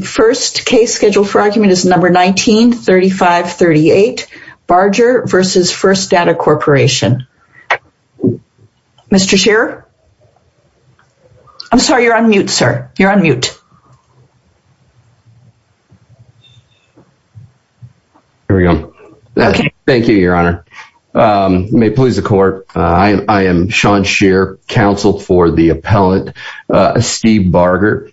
The first case scheduled for argument is No. 19-3538, Barger v. First Data Corporation. Mr. Shearer? I'm sorry, you're on mute, sir. You're on mute. Here we go. Thank you, Your Honor. May it please the Court, I am Sean Shearer, counsel for the appellant, Steve Barger.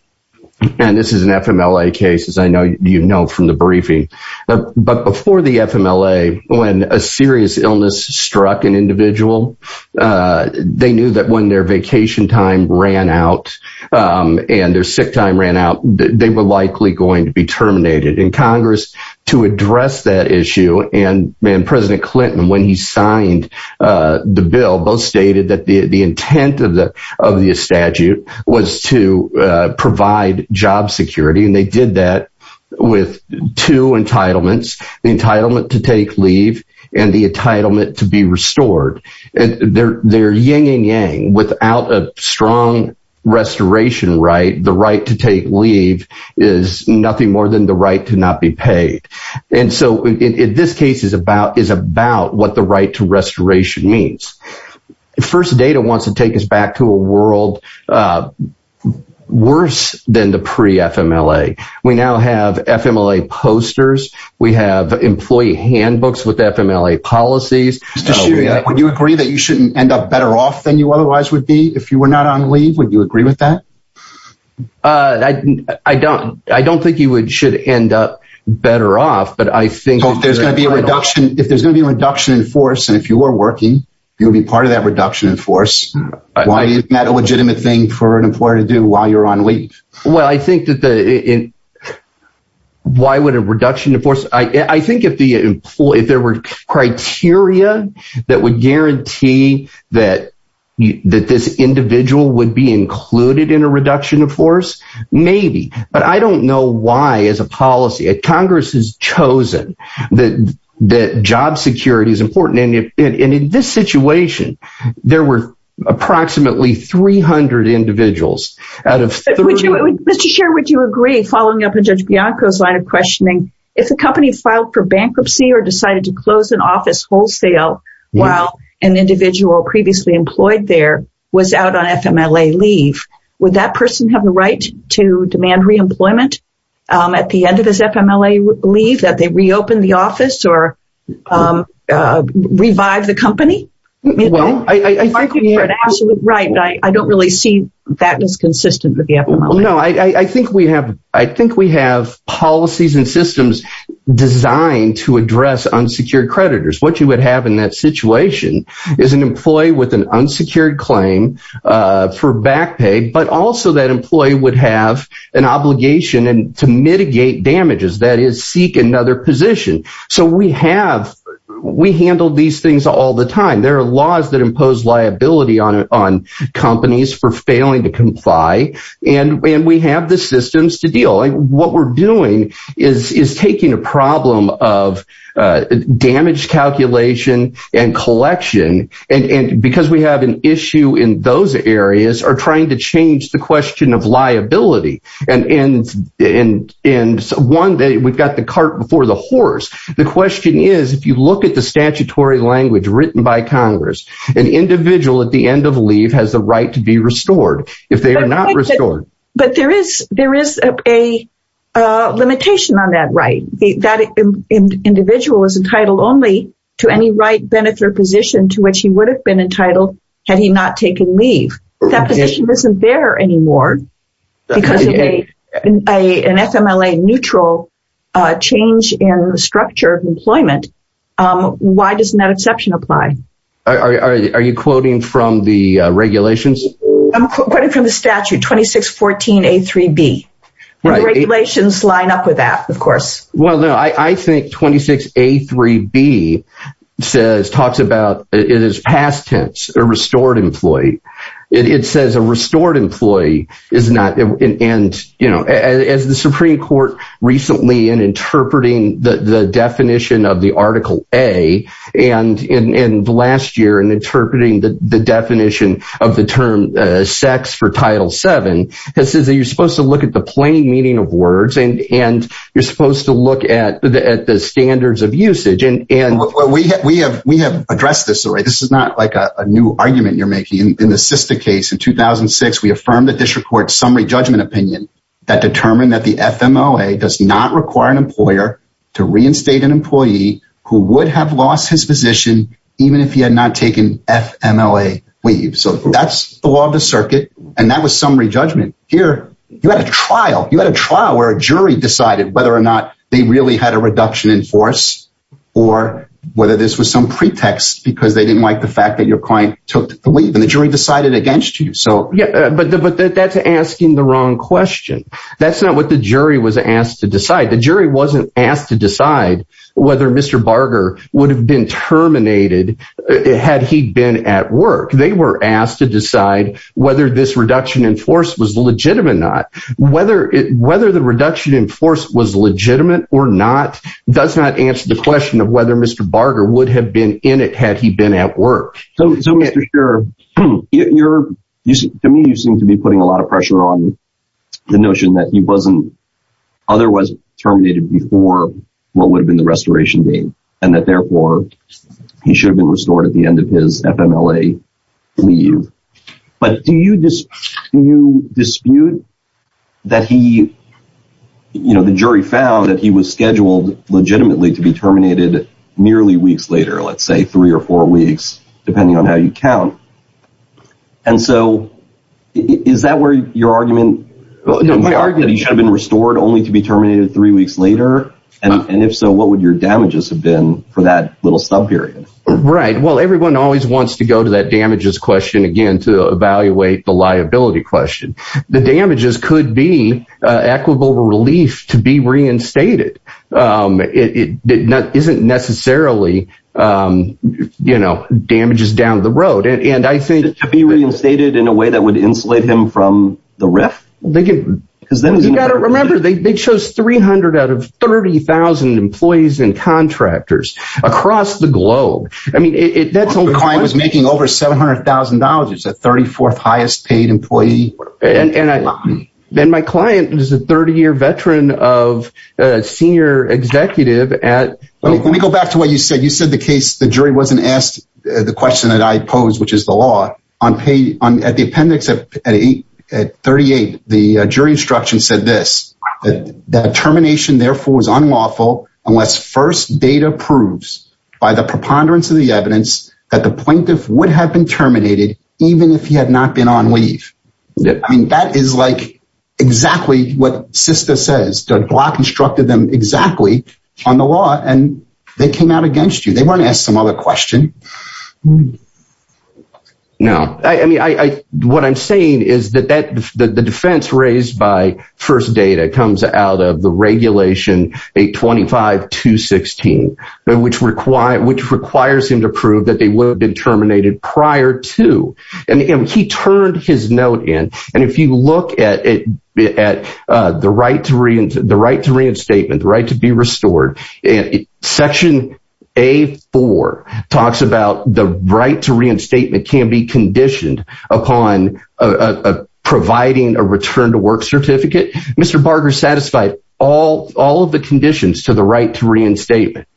And this is an FMLA case, as I know you know from the briefing. But before the FMLA, when a serious illness struck an individual, they knew that when their vacation time ran out, and their sick time ran out, they were likely going to be terminated. And Congress, to address that issue, and President Clinton, when he of the statute, was to provide job security. And they did that with two entitlements, the entitlement to take leave, and the entitlement to be restored. And they're yin and yang. Without a strong restoration right, the right to take leave is nothing more than the right to not be paid. And so this case is about what the right to restoration means. First Data wants to take back to a world worse than the pre FMLA. We now have FMLA posters, we have employee handbooks with FMLA policies. Would you agree that you shouldn't end up better off than you otherwise would be if you were not on leave? Would you agree with that? I don't. I don't think you would should end up better off. But I think there's going to be a reduction if there's going to be a reduction in force. And if you are working, you'll be part of that reduction in force. Why is that a legitimate thing for an employer to do while you're on leave? Well, I think that the why would a reduction of force I think if the employee if there were criteria that would guarantee that that this individual would be included in a reduction of force, maybe but I don't know why as a policy Congress has chosen that that job security is important. And in this situation, there were approximately 300 individuals out of 30. Mr. Chair, would you agree following up with Judge Bianco's line of questioning, if a company filed for bankruptcy or decided to close an office wholesale, while an individual previously employed there was out on FMLA leave, would that person have the right to demand reemployment at the end of his FMLA leave that they reopen the office or revive the company? Well, I think you're absolutely right. And I don't really see that as consistent with the FMLA. No, I think we have I think we have policies and systems designed to address unsecured creditors. What you would have in that situation is an employee with an unsecured claim for back pay, but also that employee would have an obligation and to mitigate damages that is seek another position. So we have, we handle these things all the time. There are laws that impose liability on on companies for failing to comply. And when we have the systems to deal what we're doing is taking a problem of damage calculation and collection. And because we have an issue in those areas are trying to change the question of liability. And in one day, we've got the cart before the horse. The question is, if you look at the statutory language written by Congress, an individual at the end of leave has the right to be restored if they are not restored. But there is there is a limitation on that right, that individual is entitled only to any right benefit or position to which he would have been entitled. Had he not taken leave, that position isn't there anymore. Because a an FMLA neutral change in the structure of employment. Why does that exception apply? Are you quoting from the regulations? I'm quoting from the statute 2614 a three B. regulations line up with that, of course. Well, no, I think 26 a three B says talks about it is past tense or restored employee. It says a restored employee is not in. And, you know, as the Supreme Court recently in interpreting the definition of the article a and in the last year and interpreting the definition of the term sex for Title Seven, that says that you're supposed to look at the plain meaning of words and you're supposed to look at the standards of usage. And we have we have we have addressed this. This is not like a argument you're making in the sister case. In 2006, we affirmed the district court summary judgment opinion that determined that the FMLA does not require an employer to reinstate an employee who would have lost his position even if he had not taken FMLA leave. So that's the law of the circuit. And that was summary judgment here. You had a trial, you had a trial where a jury decided whether or not they really had a reduction in force, or whether this was some took leave and the jury decided against you. So yeah, but but that's asking the wrong question. That's not what the jury was asked to decide. The jury wasn't asked to decide whether Mr. Barger would have been terminated. Had he been at work, they were asked to decide whether this reduction in force was legitimate or not, whether it whether the reduction in force was legitimate or not, does not answer the question of whether Mr. Barger would have been in it had he been at work. So Mr. Sher, to me you seem to be putting a lot of pressure on the notion that he wasn't otherwise terminated before what would have been the restoration date, and that therefore he should have been restored at the end of his FMLA leave. But do you dispute that he, you know, the jury found that he was scheduled legitimately to be terminated nearly weeks later, let's say three or four weeks, depending on how you count. And so is that where your argument that he should have been restored only to be terminated three weeks later? And if so, what would your damages have been for that little sub-period? Right, well everyone always wants to go to that damages question again to evaluate the liability question. The damages could be equitable relief to be reinstated. It isn't necessarily, you know, damages down the road. And I think to be reinstated in a way that would insulate him from the RIF? Because then you got to remember they chose 300 out of 30,000 employees and contractors across the globe. I mean, that's the client was making over $700,000. It's the 34th highest paid employee. And then my client was a 30-year veteran of senior executive at... Let me go back to what you said. You said the case, the jury wasn't asked the question that I posed, which is the law. At the appendix at 38, the jury instruction said this, that termination therefore was unlawful unless first data proves by the preponderance of the evidence that the plaintiff would have been terminated even if he had not been on leave. I mean, that is like exactly what SISTA says. The law constructed them exactly on the law and they came out against you. They weren't asked some other question. No, I mean, what I'm saying is that the defense raised by first data comes out of the regulation 825-216, which requires him to prove that they would have been terminated prior to. And he turned his note in. And if you look at the right to reinstatement, the right to be restored, section A-4 talks about the right to reinstatement can be conditioned upon providing a return to work certificate. Mr. Barger satisfied all of the conditions to the right to reinstatement.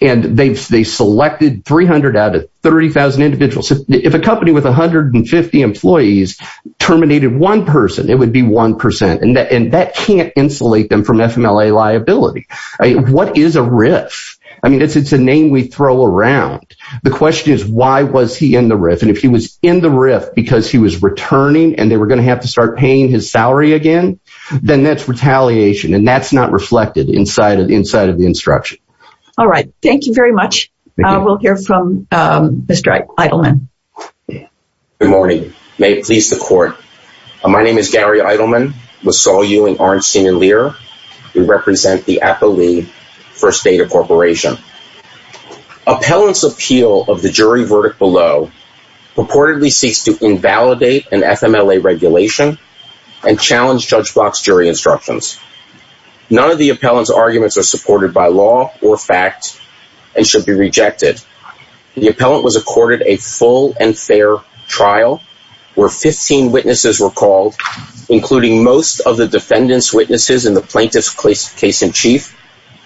And they selected 300 out of 30,000 individuals. If a company with 150 employees terminated one person, it would be 1%. And that can't insulate them from FMLA liability. What is a RIF? I mean, it's a name we throw around. The question is, why was he in the RIF? And if he was in the RIF because he was returning and we're going to have to start paying his salary again, then that's retaliation. And that's not reflected inside of the instruction. All right. Thank you very much. We'll hear from Mr. Eidelman. Good morning. May it please the court. My name is Gary Eidelman. We saw you in Arnstein and Lear. We represent the Apo Lee First Data Corporation. Appellant's appeal of the jury verdict below purportedly seeks to invalidate an FMLA regulation and challenge Judge Block's jury instructions. None of the appellant's arguments are supported by law or fact and should be rejected. The appellant was accorded a full and fair trial, where 15 witnesses were called, including most of the defendants' witnesses in the plaintiff's case in chief,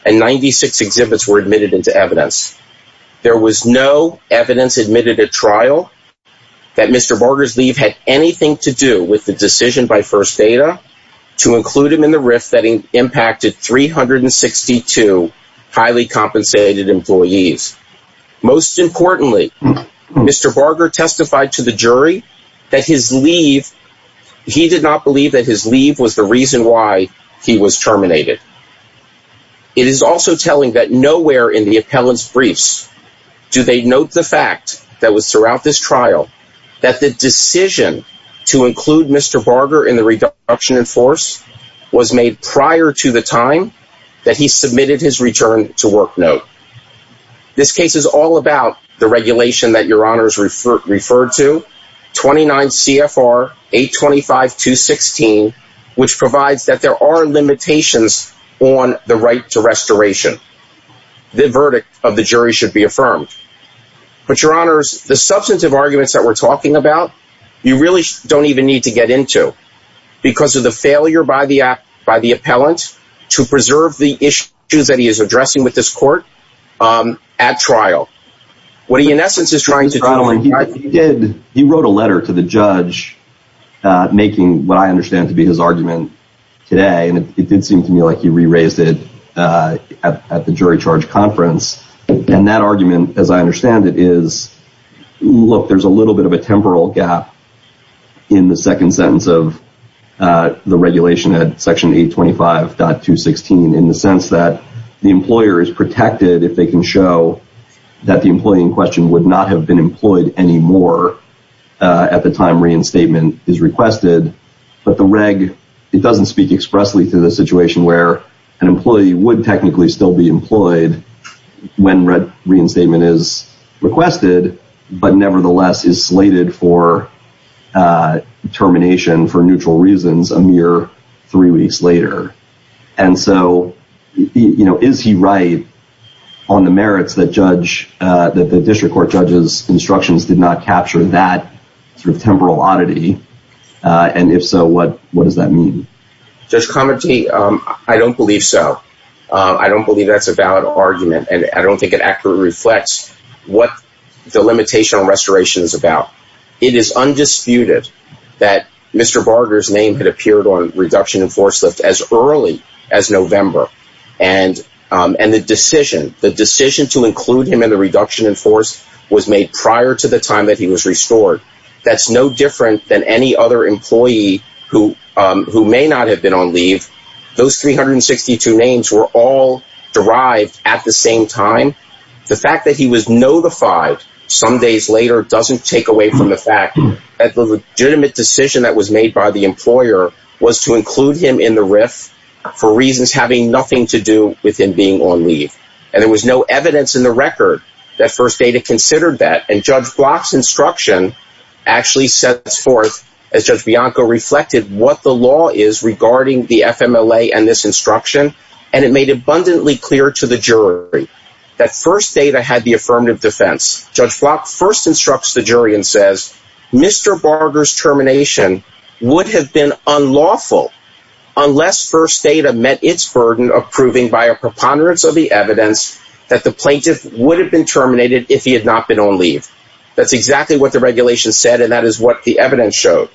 and 96 exhibits were admitted into evidence. There was no evidence admitted at trial that Mr. Barger's leave had anything to do with the decision by First Data to include him in the RIF that impacted 362 highly compensated employees. Most importantly, Mr. Barger testified to the jury that his leave, he did not believe his leave was the reason why he was terminated. It is also telling that nowhere in the appellant's briefs do they note the fact that was throughout this trial that the decision to include Mr. Barger in the reduction in force was made prior to the time that he submitted his return to work This case is all about the regulation that your honors referred to, 29 CFR 825-216, which provides that there are limitations on the right to restoration. The verdict of the jury should be affirmed. But your honors, the substantive arguments that we're talking about, you really don't even need to get into. Because of the failure by the appellant to preserve the issues that he is addressing with this court at trial. What he, in essence, is trying to... Gentlemen, he did, he wrote a letter to the judge making what I understand to be his argument today. And it did seem to me like he re-raised it at the jury charge conference. And that argument, as I understand it, is, look, there's a little bit of a temporal gap in the second sentence of the regulation at section 825.216 in the sense that the employer is protected if they can show that the employee in question would not have been employed anymore at the time reinstatement is requested. But the reg, it doesn't speak expressly to the situation where an employee would technically still be employed when reinstatement is requested, but nevertheless is slated for termination for neutral reasons a mere three weeks later. And so, is he right on the merits that the district court judge's instructions did not capture that temporal oddity? And if so, what does that mean? Judge Comerty, I don't believe so. I don't believe that's a valid argument. And I don't think it accurately reflects what the limitation on restoration is about. It is undisputed that Mr. Barger's name had appeared on reduction in force lift as early as November. And the decision, the decision to include him in the reduction in force was made prior to the time that he was restored. That's no different than any other employee who may not have been on leave. Those 362 names were all derived at the same time. The fact that he was notified some days later doesn't take away from the fact that the legitimate decision that was made by the employer was to include him in the RIF for reasons having nothing to do with him being on leave. And there was no evidence in the record that First Data considered that. And Judge Block's instruction actually sets forth, as Judge Bianco reflected, what the law is regarding the FMLA and this instruction. And it made abundantly clear to the jury that First Data had the affirmative defense. Judge Block first instructs the jury and says, Mr. Barger's termination would have been unlawful unless First Data met its burden of proving by a preponderance of the evidence that the plaintiff would have been terminated if he had not been on leave. That's exactly what the regulation said, and that is what the evidence showed.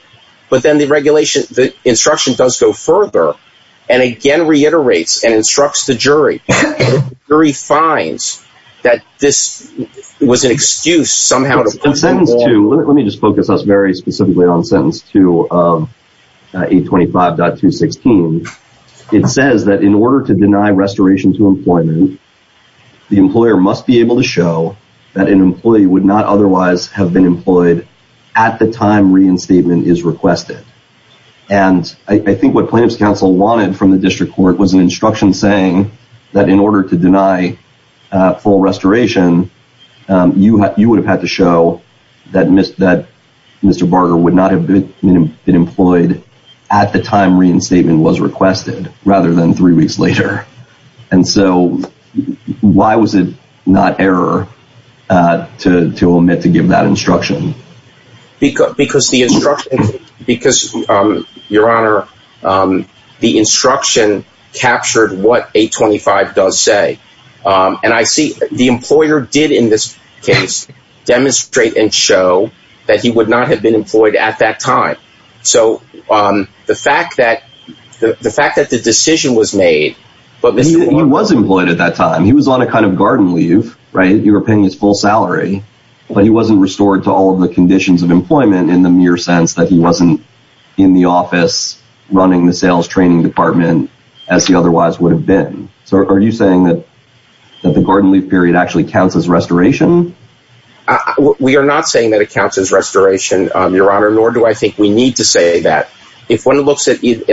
But then the regulation, the instruction does go further and again reiterates and instructs the jury. The jury finds that this was an excuse somehow. Let me just focus us very specifically on sentence 2 of 825.216. It says that in order to deny restoration to employment, the employer must be able to show that an employee would not otherwise have been employed at the time reinstatement is requested. And I think what wanted from the district court was an instruction saying that in order to deny full restoration, you would have had to show that Mr. Barger would not have been employed at the time reinstatement was requested rather than three weeks later. And so why was it not error to omit to give that instruction? Because the instruction captured what 825 does say. And I see the employer did in this case demonstrate and show that he would not have been employed at that time. So the fact that the decision was made. He was employed at that time. He was on a kind of garden leave, right? But he wasn't restored to all of the conditions of employment in the mere sense that he wasn't in the office running the sales training department as he otherwise would have been. So are you saying that the garden leave period actually counts as restoration? We are not saying that it counts as restoration, Your Honor, nor do I think we need to say that. If one looks at both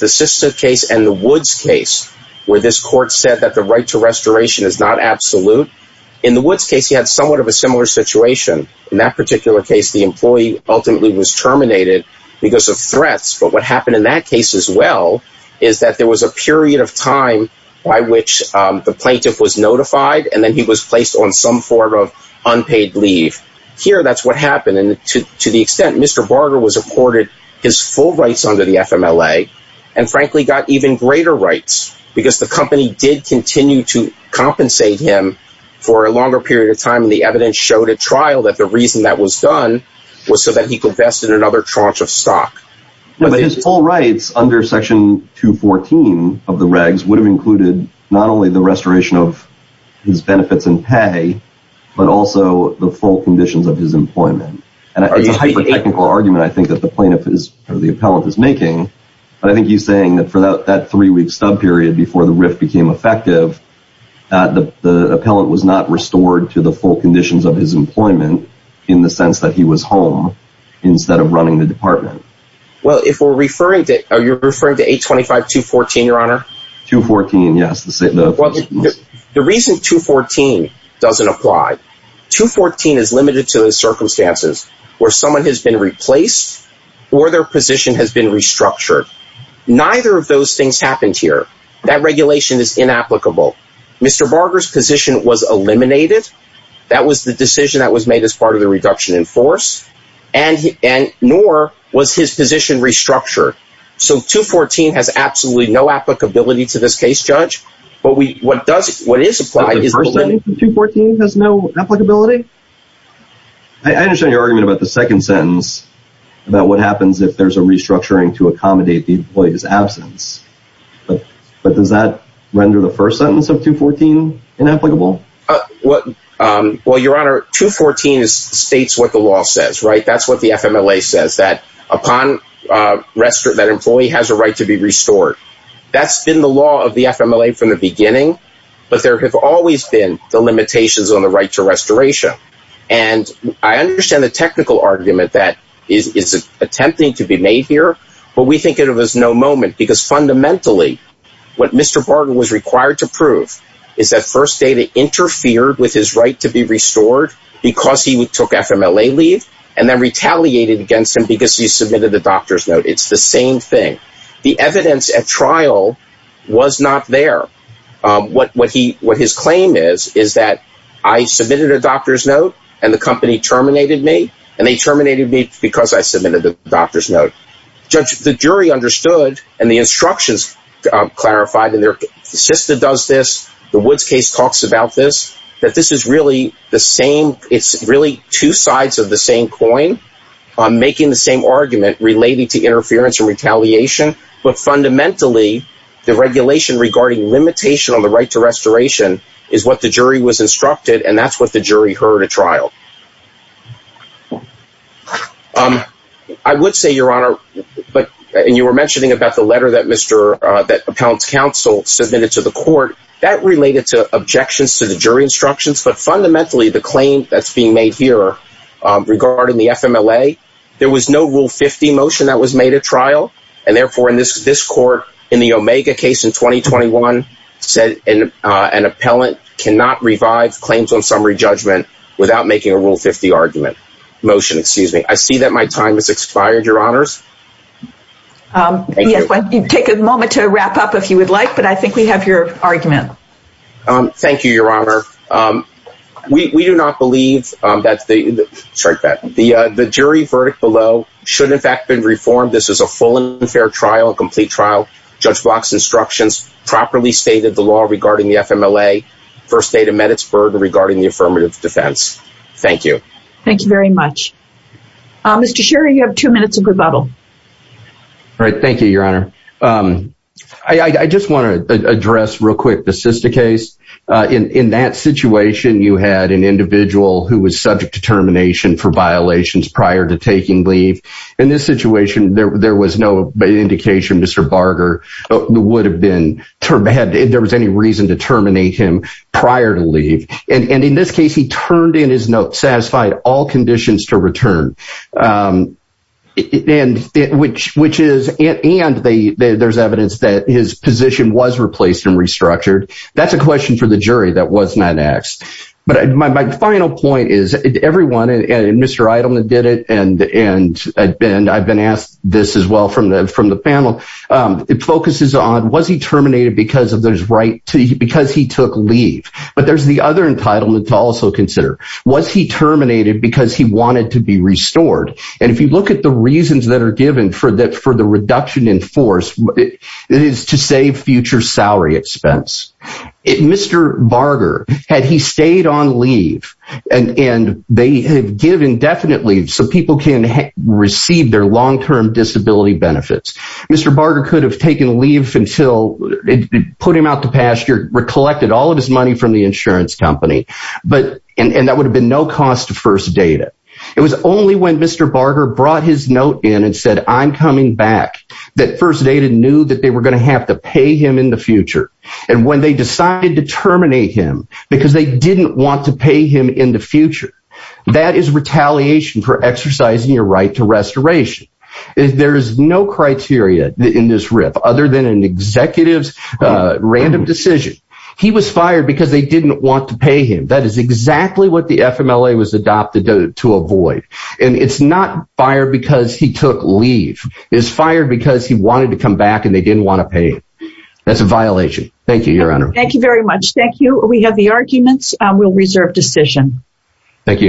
the Sista case and the Woods case, where this court said that the right to in that particular case, the employee ultimately was terminated because of threats. But what happened in that case as well is that there was a period of time by which the plaintiff was notified and then he was placed on some form of unpaid leave. Here, that's what happened. And to the extent Mr. Barger was afforded his full rights under the FMLA, and frankly, got even greater rights because the company did continue to compensate him for a longer period of time. The evidence showed at trial that the reason that was done was so that he could invest in another tranche of stock. But his full rights under Section 214 of the regs would have included not only the restoration of his benefits and pay, but also the full conditions of his employment. And it's a hyper-technical argument, I think, that the plaintiff is or the appellant is making. But I think he's saying that for that three-week stub period before the RIF became effective, that the appellant was not restored to the full conditions of his employment in the sense that he was home instead of running the department. Well, if we're referring to, are you referring to 825-214, Your Honor? 214, yes. The reason 214 doesn't apply, 214 is limited to the circumstances where someone has been replaced or their position has been restructured. Neither of those things happened here. That regulation is inapplicable. Mr. Barger's position was eliminated. That was the decision that was made as part of the reduction in force, and nor was his position restructured. So 214 has absolutely no applicability to this case, Judge. But what does, what is applied is... The first sentence of 214 has no applicability? I understand your argument about the second sentence, about what happens if there's a restructuring to accommodate the employee's absence. But does that render the first sentence of 214 inapplicable? Well, Your Honor, 214 states what the law says, right? That's what the FMLA says, that upon, that employee has a right to be restored. That's been the law of the FMLA from the beginning, but there have always been the limitations on the right to restoration. And I understand the technical argument that is attempting to be made here, but we think it was no moment, because fundamentally, what Mr. Barger was required to prove is that First Data interfered with his right to be restored because he took FMLA leave, and then retaliated against him because he submitted a doctor's note. It's the same thing. The evidence at trial was not there. What his claim is, is that I submitted a doctor's note, and the company terminated me, the jury understood, and the instructions clarified, and their sister does this, the Woods case talks about this, that this is really the same. It's really two sides of the same coin, making the same argument relating to interference and retaliation. But fundamentally, the regulation regarding limitation on the right to restoration is what the jury was instructed, and that's what the jury heard at trial. I would say, Your Honor, and you were mentioning about the letter that Appellant's Counsel submitted to the court, that related to objections to the jury instructions, but fundamentally, the claim that's being made here regarding the FMLA, there was no Rule 50 motion that was made at trial, and therefore, in this court, in the Omega case in 2021, said an appellant cannot revive claims on summary judgment without making a Rule 50 argument. Motion, excuse me. I see that my time has expired, Your Honors. Yes, why don't you take a moment to wrap up if you would like, but I think we have your argument. Thank you, Your Honor. We do not believe that the jury verdict below should, in fact, have been reformed. This is a full and fair trial, a complete trial. Judge Block's instructions properly stated the law regarding the FMLA, First State of Meditzburg regarding the affirmative defense. Thank you. Thank you very much. Mr. Sherry, you have two minutes of rebuttal. All right, thank you, Your Honor. I just want to address real quick the Sista case. In that situation, you had an individual who was subject to termination for violations prior to taking leave. In this situation, there was no indication Mr. Barger would have been terminated, if there was any reason to terminate him prior to leave. And in this case, he turned in his note, satisfied all conditions to return. And there's evidence that his position was replaced and restructured. That's a question for the jury that was not asked. But my final point is, everyone, and Mr. Eidelman did it, and I've been asked this as well from the panel, it focuses on, was he terminated because he took leave? But there's the other entitlement to also consider. Was he terminated because he wanted to be restored? And if you look at the reasons that are given for the reduction in force, it is to save future salary expense. Mr. Barger, had he stayed on leave, and they have given definite leave so people can receive their long-term disability benefits. Mr. Barger could have taken leave until, put him out the pasture, recollected all of his money from the insurance company. But, and that would have been no cost to First Data. It was only when Mr. Barger brought his note in and said, I'm coming back, that First Data knew that they were going to have to pay him in the future. And when they decided to terminate him, because they didn't want to pay him in the future, that is retaliation for exercising your right to restoration. There is no criteria in this RIF other than an executive's random decision. He was fired because they didn't want to pay him. That is exactly what the FMLA was adopted to avoid. And it's not fired because he took leave. It's fired because he wanted to come back and they didn't want to pay him. That's a violation. Thank you, Your Honor. Thank you very much. Thank you. We have the arguments. We'll reserve decision. Thank you.